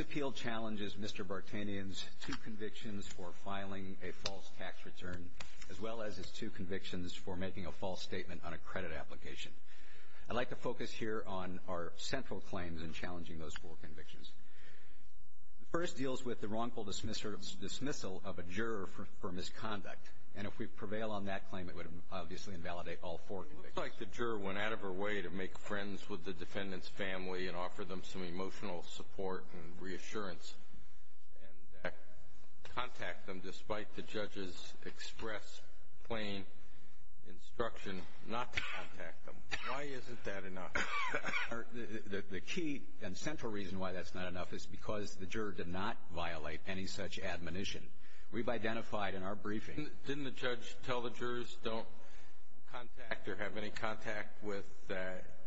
Appeal Challenges Mr. Vartanian's Two Convictions for Filing a False Tax Return as well as his two convictions for making a false statement on a credit application. I'd like to focus here on our central claims in challenging those four convictions. The first deals with the wrongful dismissal of a juror for misconduct. And if we prevail on that claim, it would obviously invalidate all four convictions. It looks like the juror went out of her way to make friends with the defendant's family and offer them some emotional support and reassurance, and contact them despite the judge's express, plain instruction not to contact them. Why isn't that enough? The key and central reason why that's not enough is because the juror did not violate any such admonition. We've identified in our briefing Didn't the judge tell the jurors don't contact or have any contact with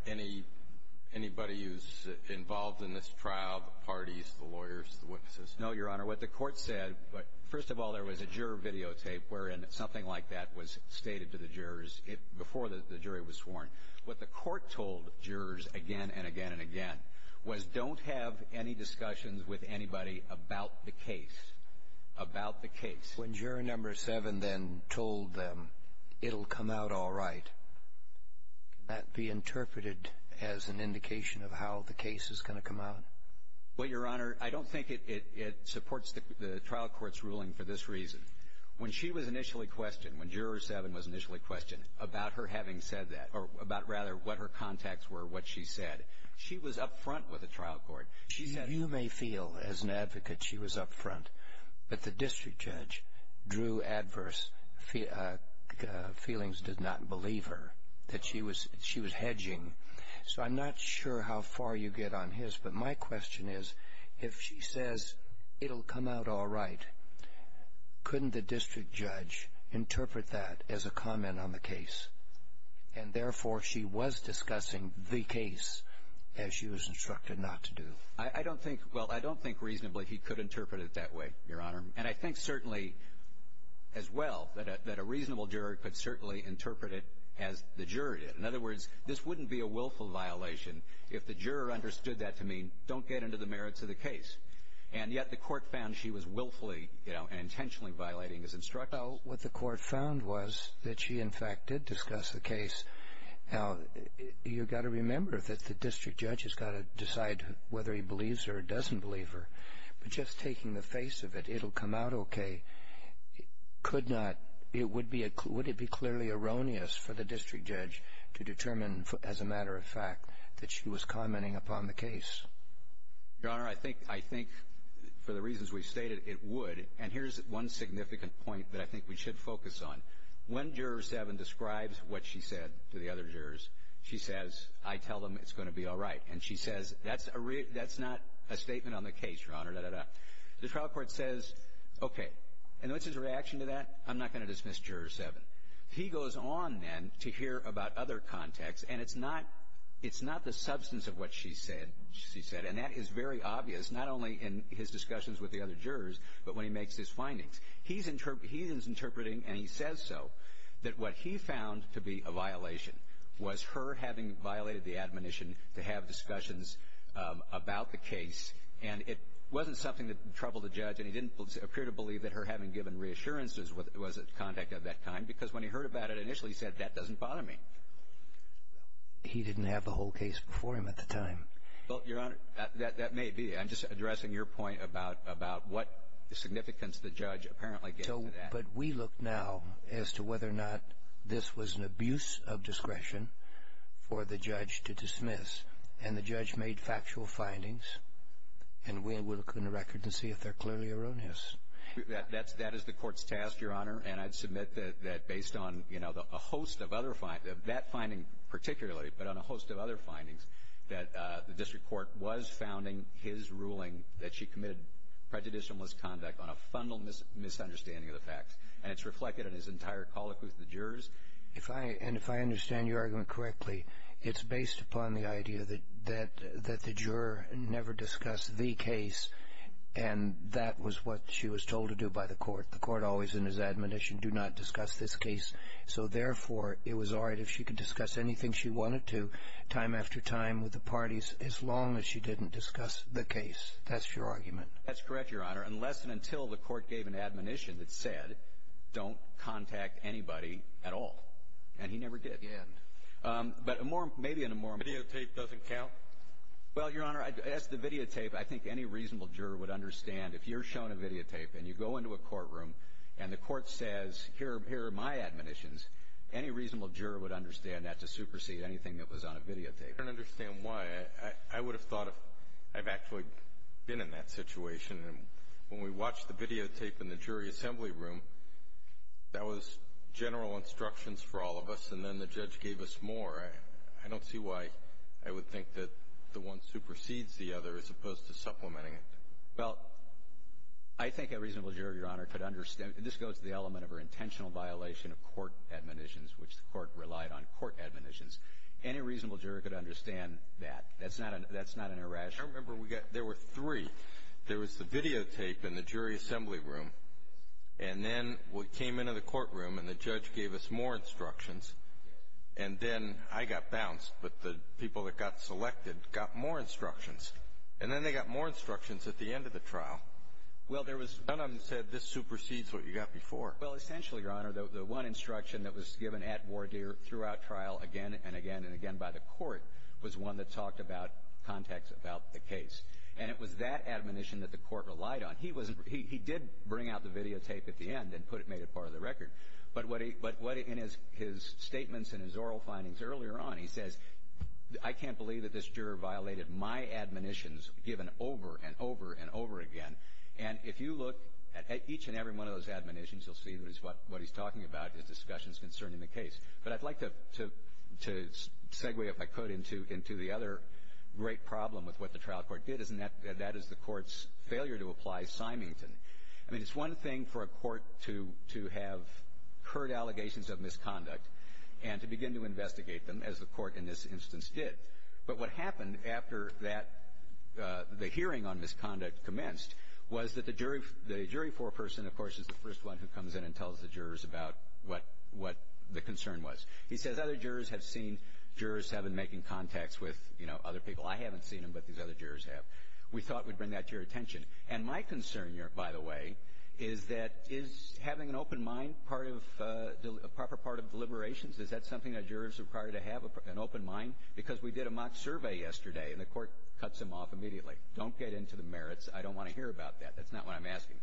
anybody who's involved in this trial, the parties, the lawyers, the witnesses? No, Your Honor. What the court said, first of all, there was a juror videotape wherein something like that was stated to the jurors before the jury was sworn. What the court told jurors again and again and again was don't have any discussions with anybody about the case, about the case. When juror number seven then told them it'll come out all right, could that be interpreted as an indication of how the case is going to come out? Well, Your Honor, I don't think it supports the trial court's ruling for this reason. When she was initially questioned, when juror seven was initially questioned about her having said that, or about rather what her contacts were, what she said, she was up front with the trial court. You may feel as an advocate she was up front, but the district judge drew adverse feelings, did not believe her, that she was hedging. So I'm not sure how far you get on his, but my question is, if she says it'll come out all right, couldn't the district judge interpret that as a comment on the case? And therefore, she was discussing the case as she was instructed not to do. I don't think, well, I don't think reasonably he could interpret it that way, Your Honor. And I think certainly as well that a reasonable juror could certainly interpret it as the juror did. In other words, this wouldn't be a willful violation if the juror understood that to mean don't get into the merits of the case. And yet the court found she was willfully and intentionally violating his instructions. So what the court found was that she, in fact, did discuss the case. Now, you've got to remember that the district judge has got to decide whether he believes her or doesn't believe her. But just taking the face of it, it'll come out okay, could not, it would be, would it be clearly erroneous for the district judge to determine as a matter of fact that she was commenting upon the case? Your Honor, I think, I think for the reasons we've stated, it would. And here's one significant point that I think we should focus on. When Juror 7 describes what she said to the other jurors, she says, I tell them it's going to be all right. And she says, that's a, that's not a statement on the case, Your Honor, da, da, da. The trial court says, okay. And what's his reaction to that? I'm not going to dismiss Juror 7. He goes on then to hear about other contacts. And it's not, it's not the substance of what she said, she said. And that is very obvious, not only in his discussions with the other jurors, but when he makes his findings. He's interpret, he is interpreting, and he says so, that what he found to be a violation was her having violated the admonition to have discussions about the case. And it wasn't something that troubled the judge. And he didn't appear to believe that her having given reassurances was a contact of that kind. Because when he heard about it initially, he said, that doesn't bother me. He didn't have the whole case before him at the time. Well, Your Honor, that, that, that may be. I'm just addressing your point about, about what significance the judge apparently gave to that. So, but we look now as to whether or not this was an abuse of discretion for the judge to dismiss. And the judge made factual findings. And we will look in the record and see if they're clearly erroneous. That, that's, that is the that finding particularly, but on a host of other findings, that the district court was founding his ruling that she committed prejudicial misconduct on a fundamental misunderstanding of the facts. And it's reflected in his entire colloquy with the jurors. If I, and if I understand your argument correctly, it's based upon the idea that, that, that the juror never discussed the case, and that was what she was told to do by the court. The court always in his admonition do not discuss this case. So, therefore, it was all right if she could discuss anything she wanted to, time after time with the parties, as long as she didn't discuss the case. That's your argument. That's correct, Your Honor, unless and until the court gave an admonition that said, don't contact anybody at all. And he never did. And. But a more, maybe in a more. Videotape doesn't count? Well, Your Honor, as to videotape, I think any reasonable juror would understand if you're shown a videotape and you go into a courtroom and the court says, here, here are my admonitions, any reasonable juror would understand that to supersede anything that was on a videotape. I don't understand why. I, I, I would have thought if I've actually been in that situation, and when we watched the videotape in the jury assembly room, that was general instructions for all of us, and then the judge gave us more. I, I don't see why I would think that the one supersedes the other as opposed to the other. This goes to the element of her intentional violation of court admonitions, which the court relied on court admonitions. Any reasonable juror could understand that. That's not an, that's not an irrational I remember we got, there were three. There was the videotape in the jury assembly room, and then we came into the courtroom and the judge gave us more instructions, and then I got bounced, but the people that got selected got more instructions. And then they got more instructions at the end of the trial. Well, there was. Dunham said this supersedes what you got before. Well, essentially, Your Honor, the, the one instruction that was given at Wardeer throughout trial again and again and again by the court was one that talked about context about the case. And it was that admonition that the court relied on. He wasn't, he, he did bring out the videotape at the end and put it, made it part of the record. But what he, but what in his, his statements and his oral findings earlier on, he says, I can't believe that this juror violated my admonitions given over and over and over again. And if you look at each and every one of those admonitions, you'll see that it's what, what he's talking about is discussions concerning the case. But I'd like to, to, to segue, if I could, into, into the other great problem with what the trial court did, isn't that, that is the court's failure to apply Symington. I mean, it's one thing for a court to, to have heard allegations of misconduct and to begin to investigate them, as the court in this instance did. But what happened after that, the hearing on misconduct commenced was that the jury, the jury foreperson, of course, is the first one who comes in and tells the jurors about what, what the concern was. He says other jurors have seen, jurors have been making contacts with, you know, other people. I haven't seen them, but these other jurors have. We thought we'd bring that to your attention. And my concern here, by the way, is that is having an open mind part of, a proper part of deliberations? Is that something that jurors require to have, an open mind? Because we did a mock survey yesterday and the court cuts them off immediately. Don't get into the merits. I don't want to hear about that. That's not what I'm asking.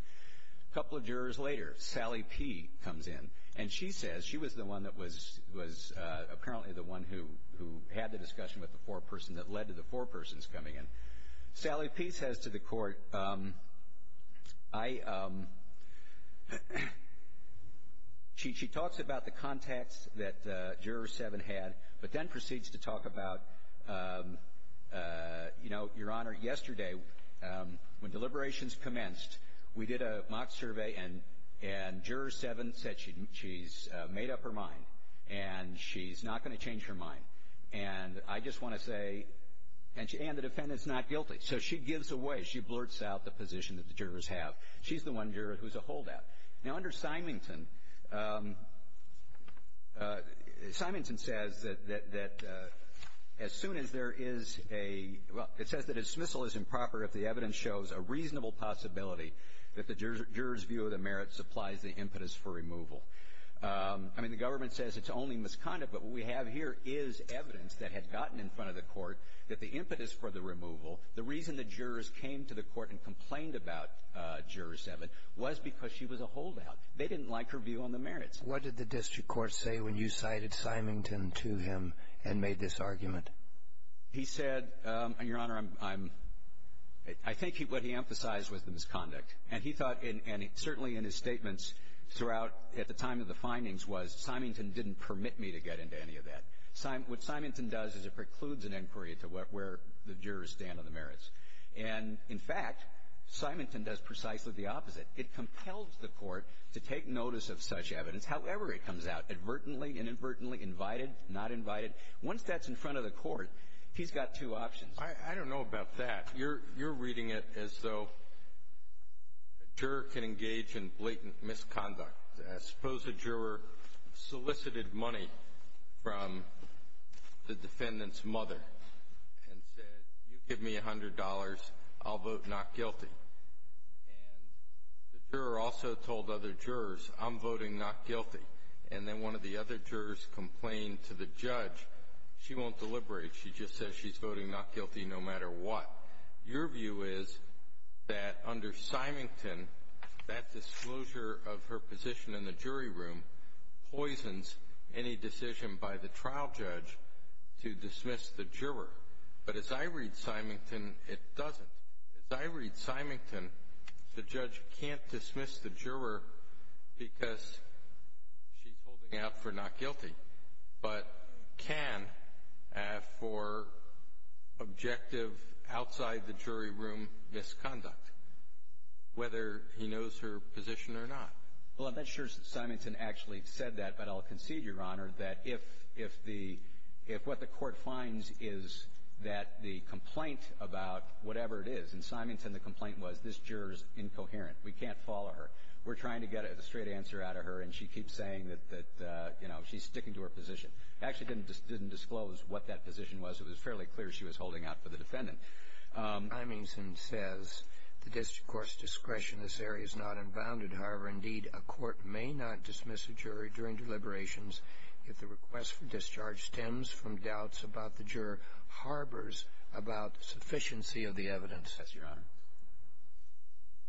A couple of jurors later, Sally P. comes in. And she says, she was the one that was, was apparently the one who, who had the discussion with the foreperson that led to the forepersons coming in. Sally P. says to the court, I, I, she, she talks about the contacts that juror seven had, but then proceeds to talk about, you know, Your Honor, yesterday, when deliberations commenced, we did a mock survey and, and juror seven said she, she's made up her mind. And she's not going to change her mind. And I just want to say, and the defendant's not guilty. So she gives away, she blurts out the position that the jurors have. She's the one juror who's a holdout. Now under Symington, Symington says that, that, that as soon as there is a, well, it says that a dismissal is improper if the evidence shows a reasonable possibility that the juror's view of the merits applies the impetus for removal. I mean, the government says it's only misconduct, but what we have here is evidence that had gotten in front of the court that the impetus for the removal, the reason the jurors came to the court and complained about juror seven was because she was a holdout. They didn't like her view on the merits. What did the district court say when you cited Symington to him and made this argument? He said, Your Honor, I'm, I'm, I think he, what he emphasized was the misconduct. And he thought, and certainly in his statements throughout, at the time of the findings was Symington didn't permit me to get into any of that. What Symington does is it precludes an inquiry to where, where the jurors stand on the merits. And, in fact, Symington does precisely the opposite. It compels the court to take notice of such evidence, however it comes out, advertently, inadvertently, invited, not invited. Once that's in front of the court, he's got two options. I, I don't know about that. You're, you're reading it as though a juror can engage in blatant misconduct. Suppose a juror solicited money from the defendant's mother and said, you give me $100, I'll vote not guilty. And the juror also told other jurors, I'm voting not guilty. And then one of the other jurors complained to the judge, she won't deliberate. She just says she's voting not guilty no matter what. Your view is that under Symington, that disclosure of her position in the jury room poisons any decision by the trial judge to dismiss the juror. But as I read Symington, it doesn't. As I read Symington, the judge can't dismiss the juror because she's holding out for not guilty, but can for objective, outside-the-jury-room misconduct, whether he knows her position or not. Well, I'm not sure Symington actually said that, but I'll concede, Your Honor, that if, if the, if what the court finds is that the complaint about whatever it is, in Symington the complaint was, this juror's incoherent. We can't follow her. We're trying to get a straight answer out of her, and she keeps saying that, that, you know, she's sticking to her position. Actually didn't disclose what that position was. It was fairly clear she was holding out for the defendant. Symington says the district court's discretion in this area is not unbounded. However, indeed, a court may not dismiss a jury during deliberations if the request for discharge stems from doubts about the juror, harbors about sufficiency of the evidence. Yes, Your Honor.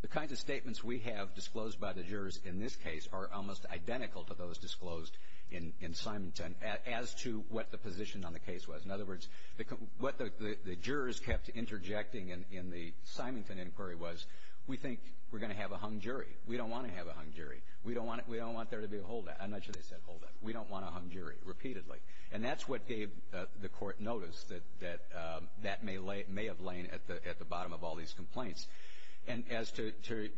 The kinds of statements we have disclosed by the jurors in this case are almost identical to those disclosed in, in Symington as to what the position on the case was. In other words, the, what the, the jurors kept interjecting in, in the Symington inquiry was, we think we're going to have a hung jury. We don't want to have a hung jury. We don't want, we don't want there to be a holdout. I'm not sure they said holdout. We don't want a hung jury, repeatedly. And that's what gave the court notice that, that, that may lay, may have lain at the, at the bottom of all these complaints. And as to, to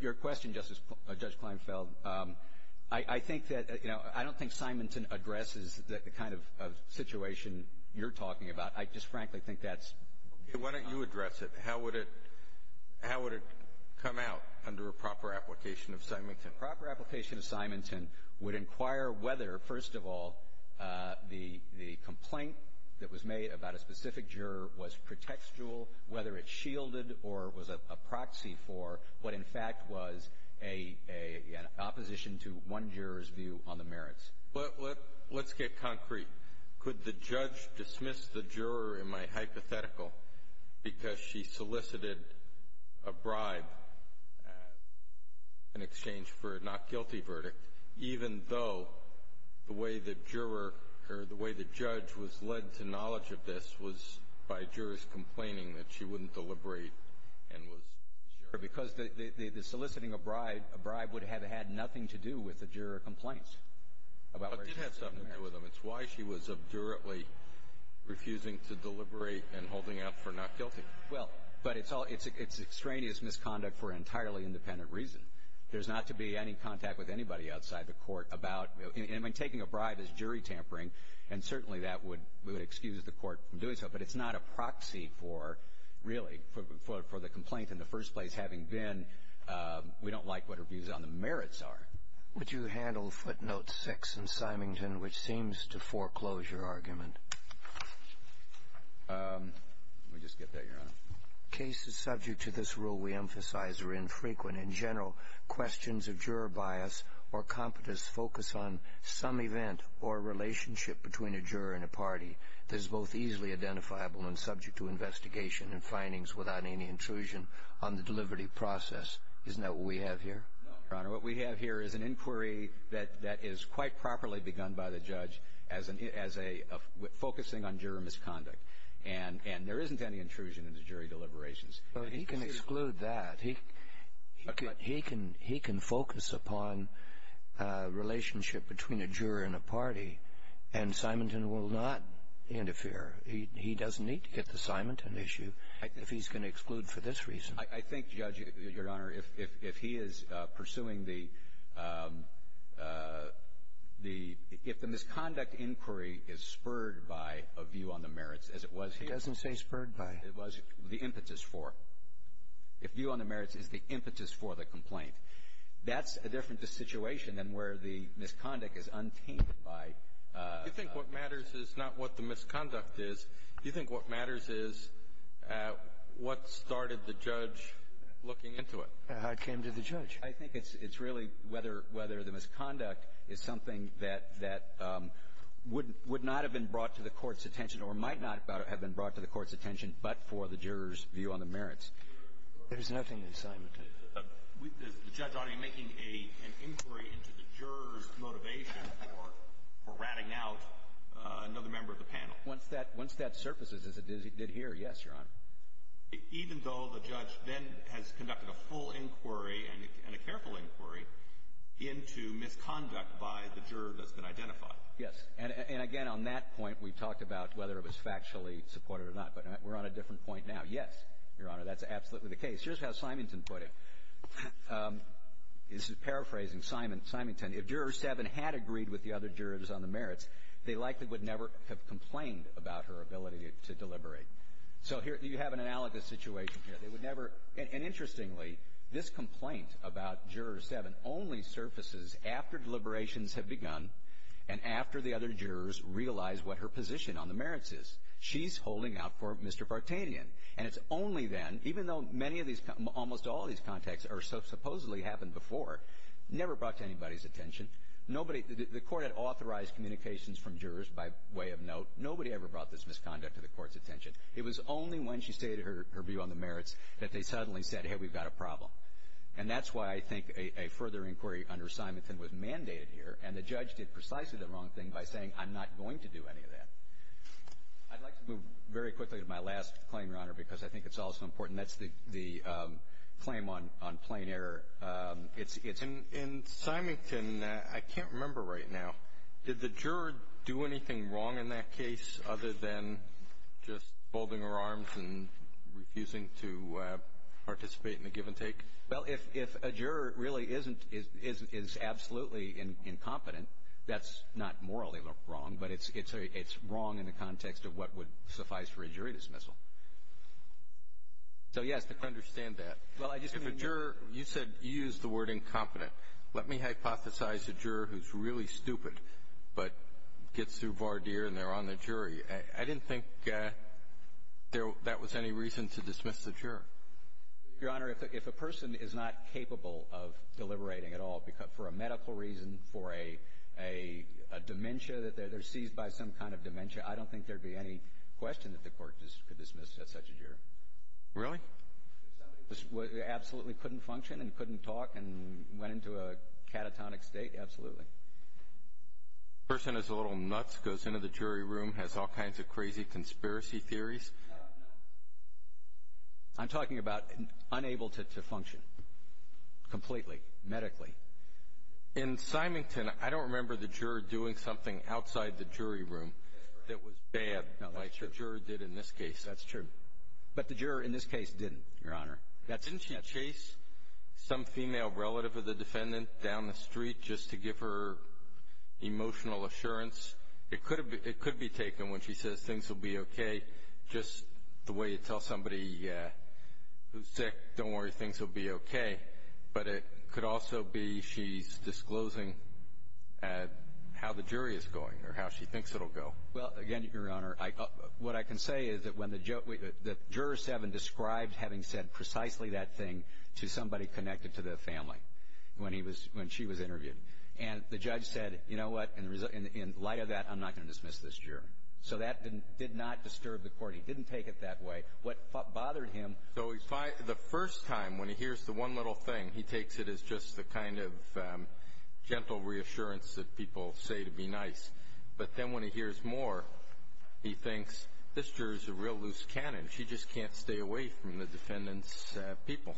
your question, Justice, Judge Kleinfeld, I, I think that, you know, I don't think Symington addresses the kind of, of situation you're talking about. I just frankly think that's Okay. Why don't you address it? How would it, how would it come out under a proper application of Symington? A proper application of Symington would inquire whether, first of all, the, the complaint that was made about a specific juror was pretextual, whether it shielded or was a, a proxy for what, in fact, was a, a, an opposition to one juror's view on the merits. Let, let, let's get concrete. Could the judge dismiss the juror in my hypothetical because she solicited a bribe in exchange for a not guilty verdict, even though the way the juror or the way the judge was led to knowledge of this was by jurors complaining that she wouldn't deliberate and was sure. Because the, the, the soliciting a bribe, a bribe would have had nothing to do with the juror complaints. But it did have something to do with them. It's why she was abdurately refusing to deliberate and holding out for not guilty. Well, but it's all, it's, it's extraneous misconduct for an entirely independent reason. There's not to be any contact with anybody outside the court about, I mean, taking a bribe is jury tampering, and certainly that would, would excuse the court from doing so. But it's not a proxy for, really, for, for the complaint in the first place, having been, we don't like what her views on the merits are. Would you handle footnote six in Symington, which seems to foreclose your argument? Let me just get that, Your Honor. Cases subject to this rule we emphasize are infrequent. In general, questions of juror bias or competence focus on some event or relationship between a juror and a party that is both easily identifiable and subject to investigation and findings without any intrusion on the delivery process. Isn't that what we have here? No, Your Honor. What we have here is an inquiry that, that is quite properly begun by the judge as an, as a, focusing on juror misconduct. And, and there isn't any intrusion into jury deliberations. But he can exclude that. He, he can, he can focus upon relationship between a juror and a party, and Symington will not interfere. He, he doesn't need to get the Symington issue if he's going to exclude for this reason. I, I think, Judge, Your Honor, if, if, if he is pursuing the, the, if the misconduct inquiry is spurred by a view on the merits as it was here. It doesn't say spurred by. It was the impetus for. If view on the merits is the impetus for the complaint. That's a different situation than where the misconduct is untainted by. You think what matters is not what the misconduct is. You think what matters is what started the judge looking into it. I came to the judge. I think it's, it's really whether, whether the misconduct is something that, that wouldn't, would not have been brought to the court's attention or might not have been brought to the court's attention but for the juror's view on the merits. There's nothing in Symington. Is the judge already making a, an inquiry into the juror's motivation for, for ratting out another member of the panel? Once that, once that surfaces as it did here, yes, Your Honor. Even though the judge then has conducted a full inquiry and, and a careful inquiry into misconduct by the juror that's been identified? Yes. And, and again on that point, we've talked about whether it was factually supported or not, but we're on a different point now. Yes, Your Honor, that's absolutely the case. Here's how Symington put it. This is paraphrasing Simon, Symington. If Juror 7 had agreed with the other jurors on the merits, they likely would never have complained about her ability to, to deliberate. So here, you have an analogous situation here. They would never, and, and interestingly, this complaint about Juror 7 only surfaces after deliberations have begun and after the other jurors realize what her position on the merits is. She's holding out for Mr. Partanian. And it's only then, even though many of these, almost all of these contacts are, supposedly happened before, never brought to anybody's attention. Nobody, the, the court had authorized communications from jurors by way of note. Nobody ever brought this misconduct to the court's attention. It was only when she stated her, her view on the merits that they suddenly said, hey, we've got a problem. And that's why I think a, a further inquiry under Symington was mandated here. And the judge did precisely the wrong thing by saying, I'm not going to do any of that. I'd like to move very quickly to my last claim, Your Honor, because I think it's also important. That's the, the claim on, on plain error. It's, it's. In, in Symington, I can't remember right now. Did the juror do anything wrong in that case other than just folding her arms and refusing to participate in the give and take? Well, if, if a juror really isn't, is, is, is absolutely incompetent, that's not morally wrong, but it's, it's a, it's wrong in the context of what would suffice for a jury dismissal. So yes, the. I understand that. Well, I just mean. If a juror, you said, you used the word incompetent. Let me hypothesize a juror who's really stupid, but gets through Vardir and they're on the jury. I didn't think there, that was any reason to dismiss the juror. Your Honor, if a, if a person is not capable of deliberating at all because, for a medical reason, for a, a, a dementia that they're, they're seized by some kind of dementia, I don't think there'd be any question that the court could dismiss at such a juror. Really? If somebody was, was, absolutely couldn't function and couldn't talk and went into a catatonic state, absolutely. Person who's a little nuts, goes into the jury room, has all kinds of crazy conspiracy theories. I'm talking about unable to, to function, completely, medically. In Symington, I don't remember the juror doing something outside the jury room that was bad, like the juror did in this case. That's true. But the juror in this case didn't, Your Honor. That's it. Didn't she chase some female relative of the defendant down the street just to give her emotional assurance? It could be, it could be taken when she says things will be okay. Just the way you tell somebody who's sick, don't worry, things will be okay. But it could also be she's disclosing how the jury is going or how she thinks it'll go. Well, again, Your Honor, I, what I can say is that when the ju, the juror seven described having said precisely that thing to somebody connected to the family when he was, when she was interviewed, and the judge said, you know what, in, in light of that, I'm not going to dismiss this juror. So that didn't, did not disturb the court. He didn't take it that way. What bothered him. So if I, the first time, when he hears the one little thing, he takes it as just the kind of gentle reassurance that people say to be nice. But then when he hears more, he thinks, this juror's a real loose cannon. She just can't stay away from the defendant's people.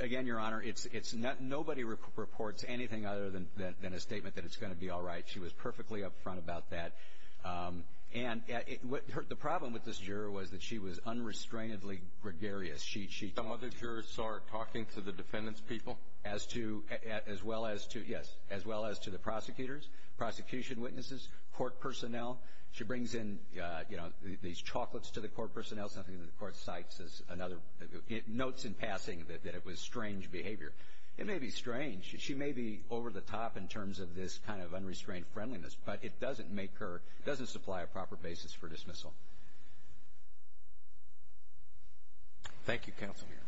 Again, Your Honor, it's, it's not, nobody reports anything other than, than, than a statement that it's going to be all right. She was perfectly up front about that. And it, what, her, the problem with this juror was that she was unrestrainedly gregarious. She, she. Some other jurors are talking to the defendant's people? As to, as well as to, yes. As well as to the prosecutors, prosecution witnesses, court personnel. She brings in, you know, these chocolates to the court personnel, something that the court cites as another, notes in passing that, that it was strange behavior. It may be strange. She may be over the top in terms of this kind of unrestrained friendliness, but it doesn't make her, doesn't supply a proper basis for dismissal. Thank you, counsel. Good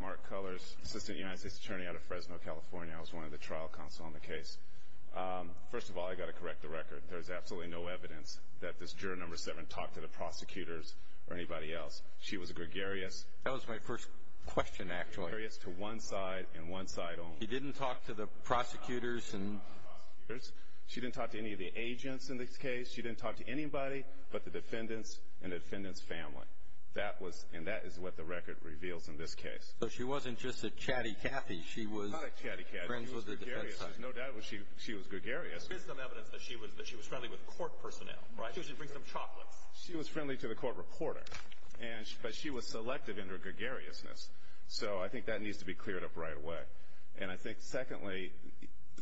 morning. Mark Cullors, Assistant United States Attorney out of Fresno, California. I was one of the trial counsel on the case. First of all, I gotta correct the record. There's absolutely no evidence that this juror number seven talked to the prosecutors or anybody else. She was gregarious. That was my first question, actually. Gregarious to one side and one side only. She didn't talk to the prosecutors and. She didn't talk to the prosecutors. She didn't talk to any of the agents in this case. She didn't talk to anybody but the defendants and the defendant's family. That was, and that is what the record reveals in this case. So she wasn't just a chatty catty. She was. Not a chatty catty. Friends with her defense attorney. No doubt she, she was gregarious. There is some evidence that she was, that she was friendly with court personnel. Right? She should bring some chocolates. She was friendly to the court reporter. And, but she was selective in her gregariousness. So I think that needs to be cleared up right away. And I think secondly,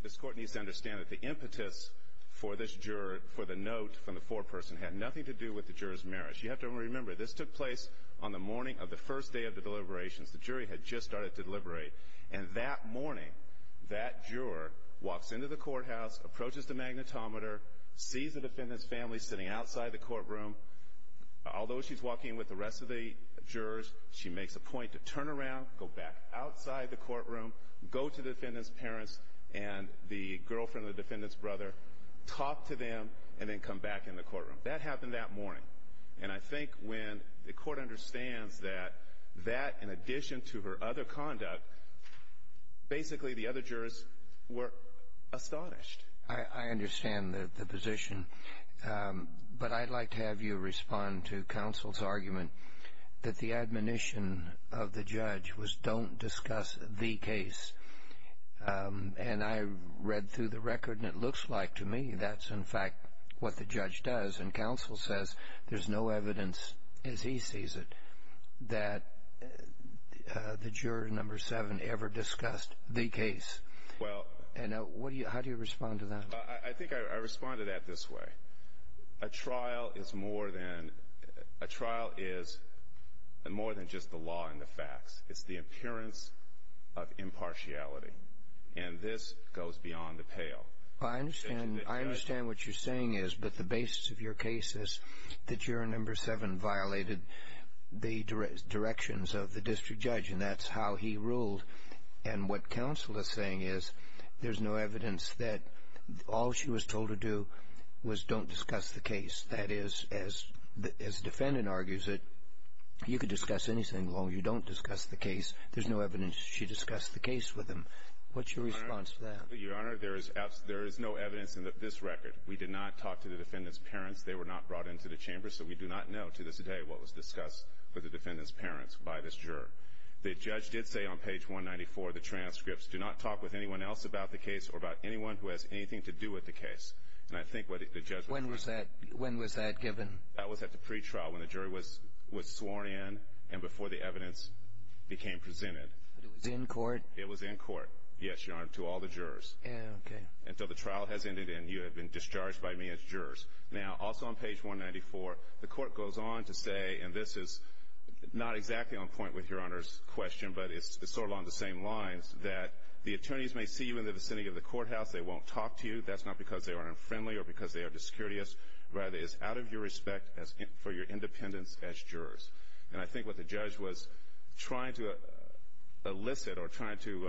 this court needs to understand that the impetus for this juror for the note from the foreperson had nothing to do with the juror's marriage. You have to remember, this took place on the morning of the first day of the deliberations. The jury had just started to deliberate. And that morning, that juror walks into the courthouse, approaches the magnetometer, sees the defendant's family sitting outside the courtroom. Although she's walking with the rest of the jurors, she makes a point to turn around, go back outside the courtroom, go to the defendant's parents and the girlfriend of the defendant's brother, talk to them, and then come back in the courtroom. That happened that morning. And I think when the court understands that, that in addition to her other conduct, basically the other jurors were astonished. I, I understand the, the position. But I'd like to have you respond to counsel's argument that the admonition of the judge was don't discuss the case. And I read through the record and it looks like to me that's in fact what the judge does. And counsel says there's no evidence, as he sees it, that the juror number seven ever discussed the case. And what do you, how do you respond to that? I, I think I, I respond to that this way. A trial is more than, a trial is more than just the law and the facts. It's the appearance of impartiality. And this goes beyond the pale. I understand, I understand what you're saying is, but the basis of your case is that juror number seven violated the dire, directions of the district judge. And that's how he ruled. And what counsel is saying is, there's no evidence that all she was told to do was don't discuss the case. That is, as, as defendant argues it, you could discuss anything as long as you don't discuss the case, there's no evidence she discussed the case with him. What's your response to that? Your Honor, there is, there is no evidence in this record. We did not talk to the defendant's parents. They were not brought into the chamber, so we do not know to this day what was discussed with the defendant's parents by this juror. The judge did say on page 194 of the transcripts, do not talk with anyone else about the case or about anyone who has anything to do with the case. And I think what the judge- When was that, when was that given? That was at the pre-trial when the jury was, was sworn in. And before the evidence became presented. But it was in court? It was in court, yes, Your Honor, to all the jurors. Okay. Until the trial has ended and you have been discharged by me as jurors. Now, also on page 194, the court goes on to say, and this is not exactly on point with Your Honor's question, but it's, it's sort of on the same lines, that the attorneys may see you in the vicinity of the courthouse, they won't talk to you. That's not because they are unfriendly or because they are discourteous. Rather, it's out of your respect as, for your independence as jurors. And I think what the judge was trying to elicit or trying to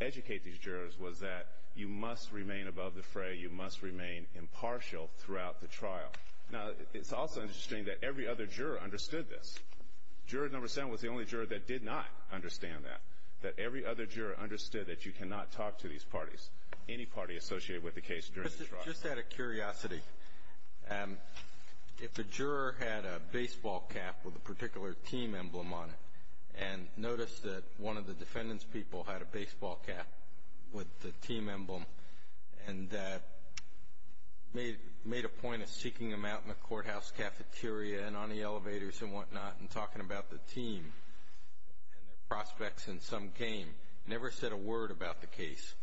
educate these jurors was that you must remain above the fray. You must remain impartial throughout the trial. Now, it's also interesting that every other juror understood this. Juror number seven was the only juror that did not understand that. That every other juror understood that you cannot talk to these parties, any party associated with the case during the trial. Just out of curiosity, if a juror had a baseball cap with a particular team emblem on it, and noticed that one of the defendant's people had a baseball cap with the team emblem, and made a point of seeking them out in the courthouse cafeteria and on the elevators and whatnot and talking about the team and their prospects in some game, never said a word about the case.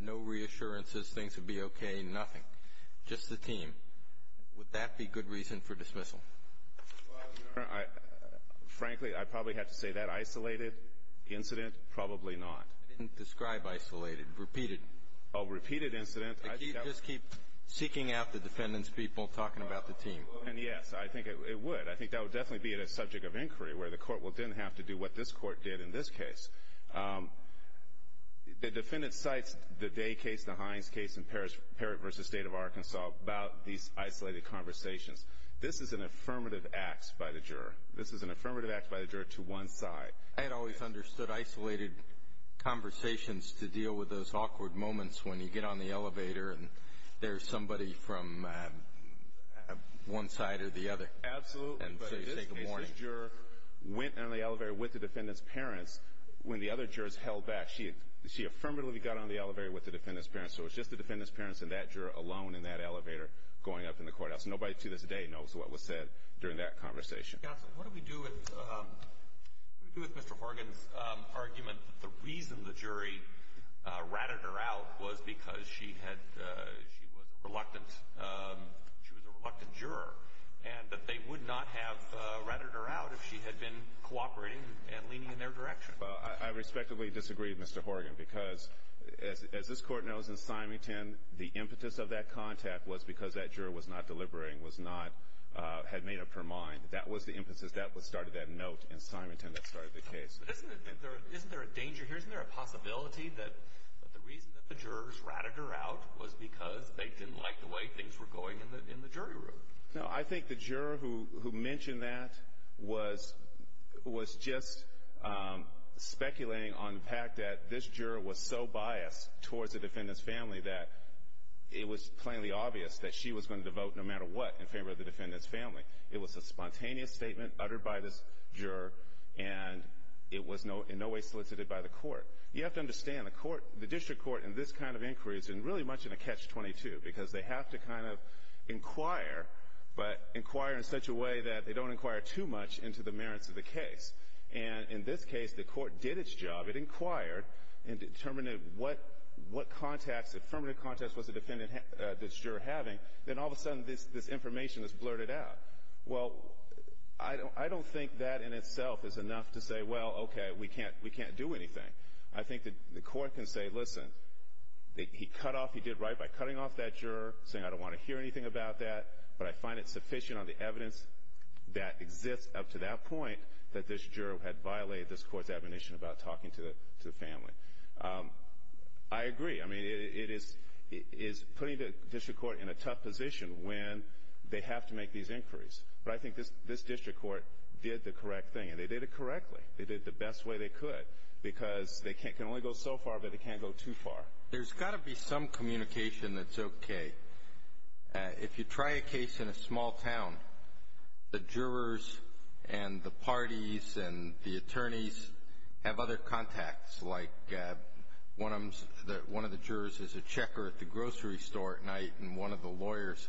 No reassurances, things would be okay, nothing. Just the team. Would that be good reason for dismissal? Frankly, I probably have to say that isolated incident, probably not. I didn't describe isolated, repeated. Oh, repeated incident. Just keep seeking out the defendant's people, talking about the team. And yes, I think it would. I think that would definitely be a subject of inquiry, where the court will then have to do what this court did in this case. The defendant cites the Day case, the Hines case in Parrott v. State of Arkansas about these isolated conversations. This is an affirmative act by the juror. This is an affirmative act by the juror to one side. I had always understood isolated conversations to deal with those awkward moments when you get on the elevator and there's somebody from one side or the other. And so you take a morning. But in this case, this juror went on the elevator with the defendant's parents when the other jurors held back. She affirmatively got on the elevator with the defendant's parents. So it was just the defendant's parents and that juror alone in that elevator going up in the courthouse. Nobody to this day knows what was said during that conversation. Counsel, what do we do with Mr. Horgan's argument that the reason the jury ratted her out was because she was a reluctant juror and that they would not have ratted her out if she had been cooperating and leaning in their direction? Well, I respectively disagree with Mr. Horgan because, as this court knows in Symington, the impetus of that contact was because that juror was not deliberating, was not, had made up her mind. That was the impetus that started that note in Symington that started the case. But isn't there a danger here? Isn't there a possibility that the reason that the jurors ratted her out was because they didn't like the way things were going in the jury room? No, I think the juror who mentioned that was just speculating on the fact that this juror was so biased towards the defendant's family that it was plainly obvious that she was going to vote no matter what in favor of the defendant's family. It was a spontaneous statement uttered by this juror and it was in no way solicited by the court. You have to understand, the court, the district court in this kind of inquiry is really much in a catch-22 because they have to kind of inquire, but inquire in such a way that they don't inquire too much into the merits of the case. And in this case, the court did its job. It inquired and determined what contacts, affirmative contacts was the defendant, this juror having. Then all of a sudden, this information is blurted out. Well, I don't think that in itself is enough to say, well, okay, we can't do anything. I think that the court can say, listen, he cut off, he did right by cutting off that juror, saying I don't want to hear anything about that, but I find it sufficient on the evidence that exists up to that point that this juror had violated this court's admonition about talking to the family. I agree. I mean, it is putting the district court in a tough position when they have to make these inquiries. But I think this district court did the correct thing, and they did it correctly. They did it the best way they could because they can only go so far, but they can't go too far. There's got to be some communication that's okay. If you try a case in a small town, the jurors and the parties and the attorneys have other contacts, like one of the jurors is a checker at the grocery store at night, and one of the lawyers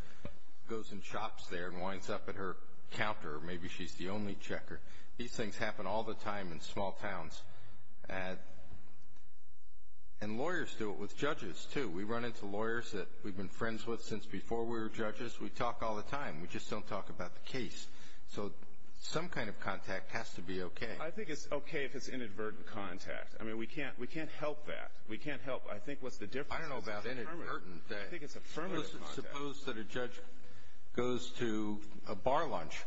goes and shops there and winds up at her counter. Maybe she's the only checker. These things happen all the time in small towns. And lawyers do it with judges, too. We run into lawyers that we've been friends with since before we were judges. We talk all the time. We just don't talk about the case. So some kind of contact has to be okay. I think it's okay if it's inadvertent contact. I mean, we can't help that. We can't help. I think what's the difference? I don't know about inadvertent, but suppose that a judge goes to a bar lunch.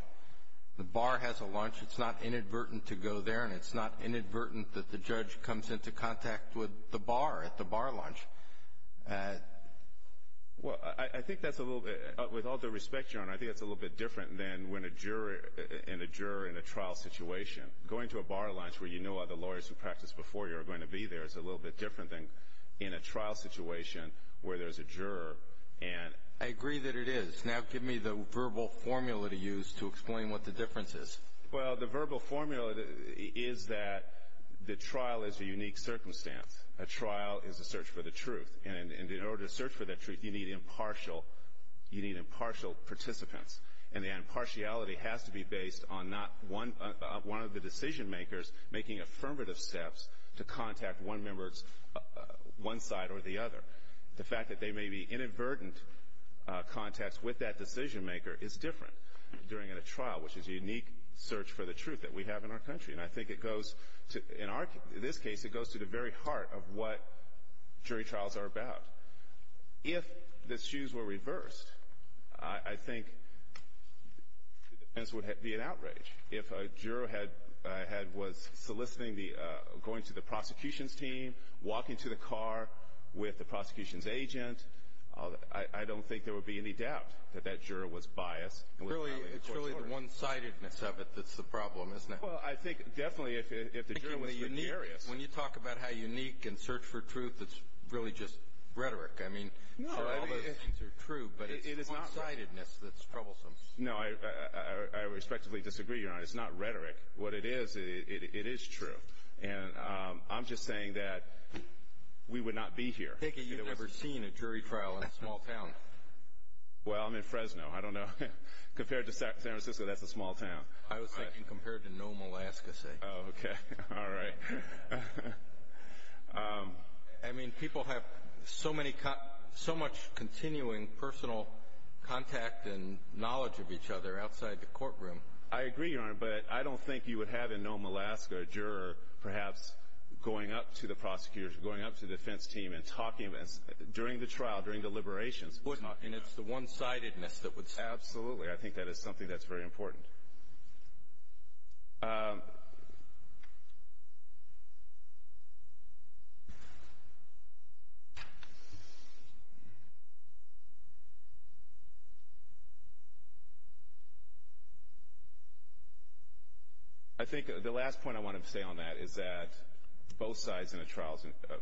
The bar has a lunch. It's not inadvertent to go there, and it's not inadvertent that the judge comes into contact with the bar at the bar lunch. Well, I think that's a little bit, with all due respect, John, I think that's a little bit different than when a juror in a trial situation. Going to a bar lunch where you know other lawyers who practiced before you are going to be there is a little bit different than in a trial situation where there's a juror and. I agree that it is. Now give me the verbal formula to use to explain what the difference is. Well, the verbal formula is that the trial is a unique circumstance. A trial is a search for the truth, and in order to search for that truth, you need impartial. You need impartial participants, and the impartiality has to be based on not one of the decision makers making affirmative steps to contact one member, one side or the other. The fact that they may be inadvertent contacts with that decision maker is different during a trial, which is a unique search for the truth that we have in our country. And I think it goes to, in this case, it goes to the very heart of what jury trials are about. If the shoes were reversed, I think the defense would be in outrage. If a juror was soliciting the, going to the prosecution's team, walking to the car with the prosecution's agent, I don't think there would be any doubt that that juror was biased. It's really the one-sidedness of it that's the problem, isn't it? Well, I think definitely if the juror was vicarious. When you talk about how unique and search for truth, it's really just rhetoric. I mean, all those things are true, but it's the one-sidedness that's troublesome. No, I respectfully disagree, Your Honor. It's not rhetoric. What it is, it is true. And I'm just saying that we would not be here. Take it you've never seen a jury trial in a small town. Well, I'm in Fresno. I don't know. Compared to San Francisco, that's a small town. I was thinking compared to Nome, Alaska, say. Oh, okay. All right. I mean, people have so many, so much continuing personal contact and knowledge of each other outside the courtroom. I agree, Your Honor, but I don't think you would have in Nome, Alaska, a juror perhaps going up to the prosecutor's, going up to the defense team and talking, during the trial, during the liberations, and talking about it. And it's the one-sidedness that would stop that. Absolutely. I think that is something that's very important. I think the last point I want to say on that is that both sides in a trial,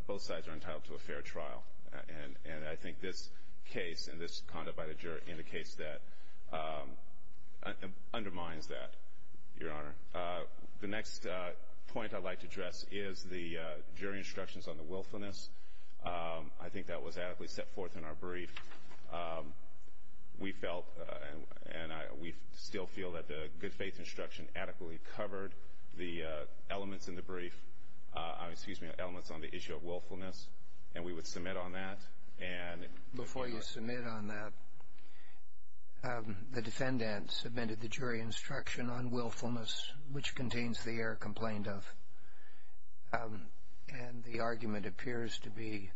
both sides are entitled to a fair trial. And I think this case and this conduct by the juror indicates that, undermines that, Your Honor. The next point I'd like to address is the jury instructions on the willfulness. I think that was adequately set forth in our brief. We felt, and we still feel that the good faith instruction adequately covered the elements in the brief, excuse me, elements on the issue of willfulness. And we would submit on that. And. Before you submit on that, the defendant submitted the jury instruction on willfulness, which contains the error complained of. And the argument appears to be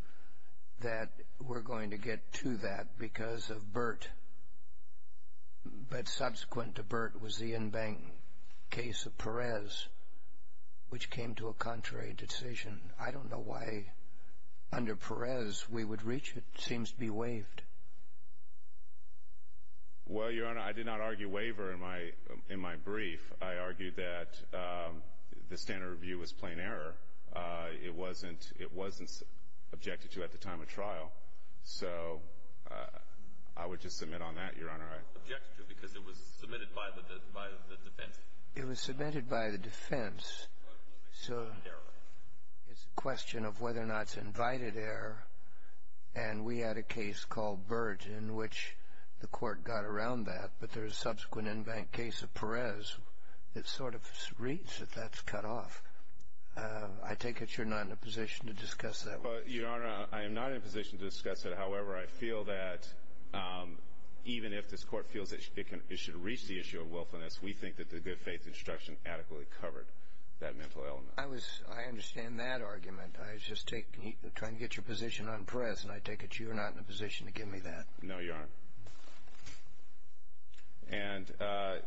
that we're going to get to that because of Burt. But subsequent to Burt was the in-bank case of Perez, which came to a contrary decision. I don't know why under Perez we would reach it. It seems to be waived. Well, Your Honor, I did not argue waiver in my brief. I argued that the standard review was plain error. It wasn't, it wasn't objected to at the time of trial. So I would just submit on that, Your Honor. I objected to it because it was submitted by the defense. It was submitted by the defense. So it's a question of whether or not it's invited error. And we had a case called Burt in which the court got around that. But there's a subsequent in-bank case of Perez that sort of reads that that's cut off. I take it you're not in a position to discuss that. Well, Your Honor, I am not in a position to discuss it. However, I feel that even if this court feels it should reach the issue of willfulness, we think that the good faith instruction adequately covered. That mental element. I was, I understand that argument. I was just taking, trying to get your position on Perez. And I take it you're not in a position to give me that. No, Your Honor. And our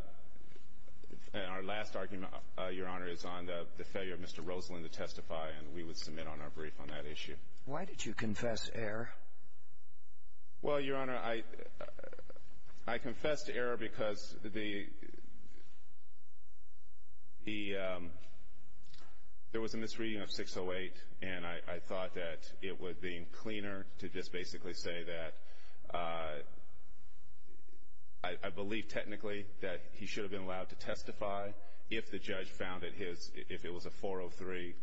last argument, Your Honor, is on the failure of Mr. Rosalyn to testify. And we would submit on our brief on that issue. Why did you confess error? Well, Your Honor, I confessed error because the, the, there was a misreading of 608. And I thought that it would be cleaner to just basically say that I believe technically that he should have been allowed to testify if the judge found that his, if it was a 403.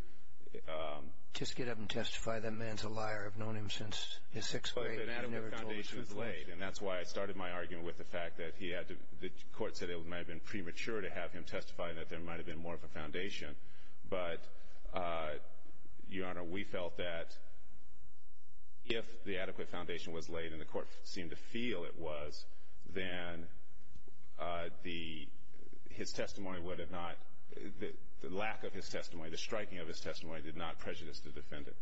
Just get up and testify. That man's a liar. I've known him since his sixth grade. He never told us who he was. And that's why I started my argument with the fact that he had to, the court said it might have been premature to have him testify and that there might have been more of a foundation. But, Your Honor, we felt that if the adequate foundation was laid and the court seemed to feel it was, then the, his testimony would have not, the lack of his testimony, the striking of his testimony did not prejudice the defendant.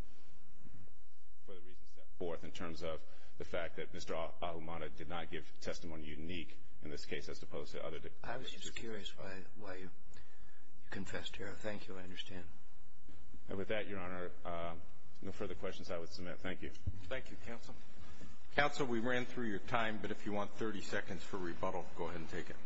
For the reasons set forth in terms of the fact that Mr. Ahumada did not give testimony unique in this case as opposed to other. I was just curious why, why you confessed error. Thank you. I understand. And with that, Your Honor, no further questions I would submit. Thank you. Thank you, Counsel. Counsel, we ran through your time, but if you want 30 seconds for rebuttal, go ahead and take it.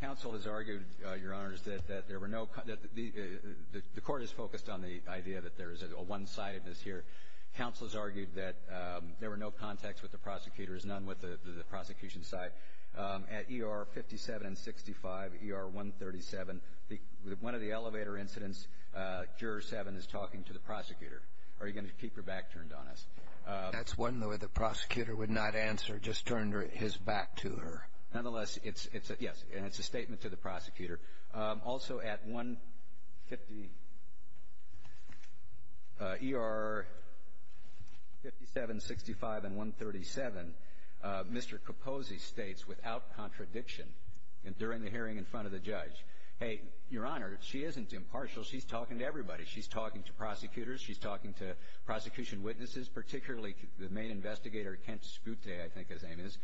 Counsel has argued, Your Honors, that there were no, that the court is focused on the idea that there is a one-sidedness here. Counsel has argued that there were no contacts with the prosecutors, none with the prosecution side. At ER 57 and 65, ER 137, one of the elevator incidents, Juror 7 is talking to the prosecutor. Are you going to keep your back turned on us? That's one where the prosecutor would not answer, just turn his back to her. Nonetheless, it's, it's a, yes, and it's a statement to the prosecutor. Also at 150, ER 57, 65, and 137, Mr. Capozzi states without contradiction and during the hearing in front of the judge, hey, Your Honor, she isn't impartial. She's talking to everybody. She's talking to prosecutors. She's talking to prosecution witnesses, particularly the main investigator, Kent Scute, I think his name is.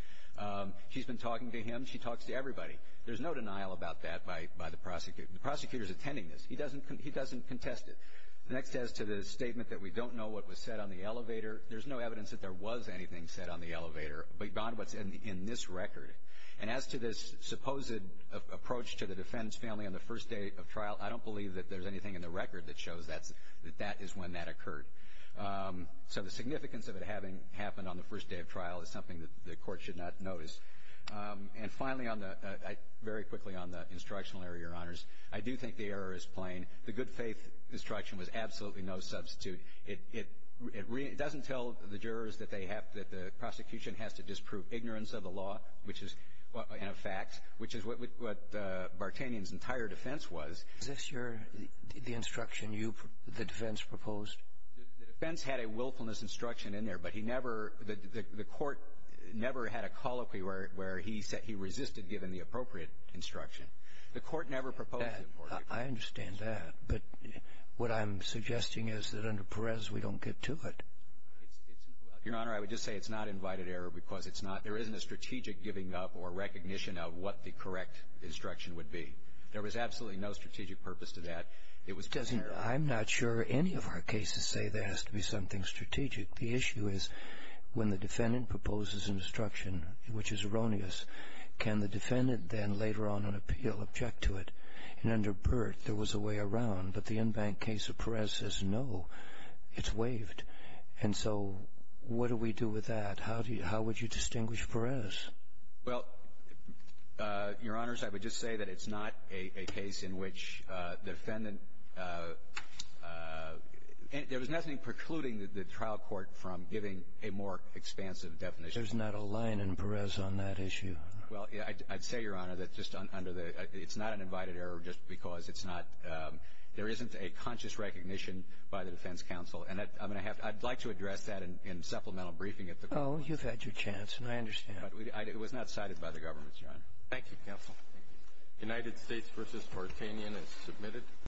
She's been talking to him. She talks to everybody. There's no denial about that by, by the prosecutor. The prosecutor's attending this. He doesn't, he doesn't contest it. Next, as to the statement that we don't know what was said on the elevator, there's no evidence that there was anything said on the elevator beyond what's in, in this record. And as to this supposed approach to the defense family on the first day of trial, I don't believe that there's anything in the record that shows that's, that that is when that occurred. So the significance of it having happened on the first day of trial is something that the court should not notice. And finally, on the, I, very quickly on the instructional error, Your Honors, I do think the error is plain. The good faith instruction was absolutely no substitute. It, it, it doesn't tell the jurors that they have, that the prosecution has to disprove ignorance of the law, which is, in effect, which is what, what Bartanian's entire defense was. Is this your, the instruction you, the defense proposed? The defense had a willfulness instruction in there, but he never, the, the, the court never had a colloquy where, where he said he resisted, given the appropriate instruction. The court never proposed it for you. I understand that, but what I'm suggesting is that under Perez, we don't get to it. It's, it's, Your Honor, I would just say it's not invited error because it's not, there isn't a strategic giving up or recognition of what the correct instruction would be. There was absolutely no strategic purpose to that. It was plain error. I'm not sure any of our cases say there has to be something strategic. The issue is when the defendant proposes an instruction, which is erroneous, can the defendant then later on in appeal object to it? And under Burt, there was a way around. But the in-bank case of Perez says, no, it's waived. And so what do we do with that? How do you, how would you distinguish Perez? Well, Your Honors, I would just say that it's not a, a case in which defendant and there was nothing precluding the trial court from giving a more expansive definition. There's not a line in Perez on that issue. Well, I'd say, Your Honor, that just under the, it's not an invited error just because it's not, there isn't a conscious recognition by the defense counsel. And that, I mean, I have, I'd like to address that in supplemental briefing at the court. Oh, you've had your chance, and I understand. But it was not cited by the government, Your Honor. Thank you, counsel. United States v. Tartanian is submitted.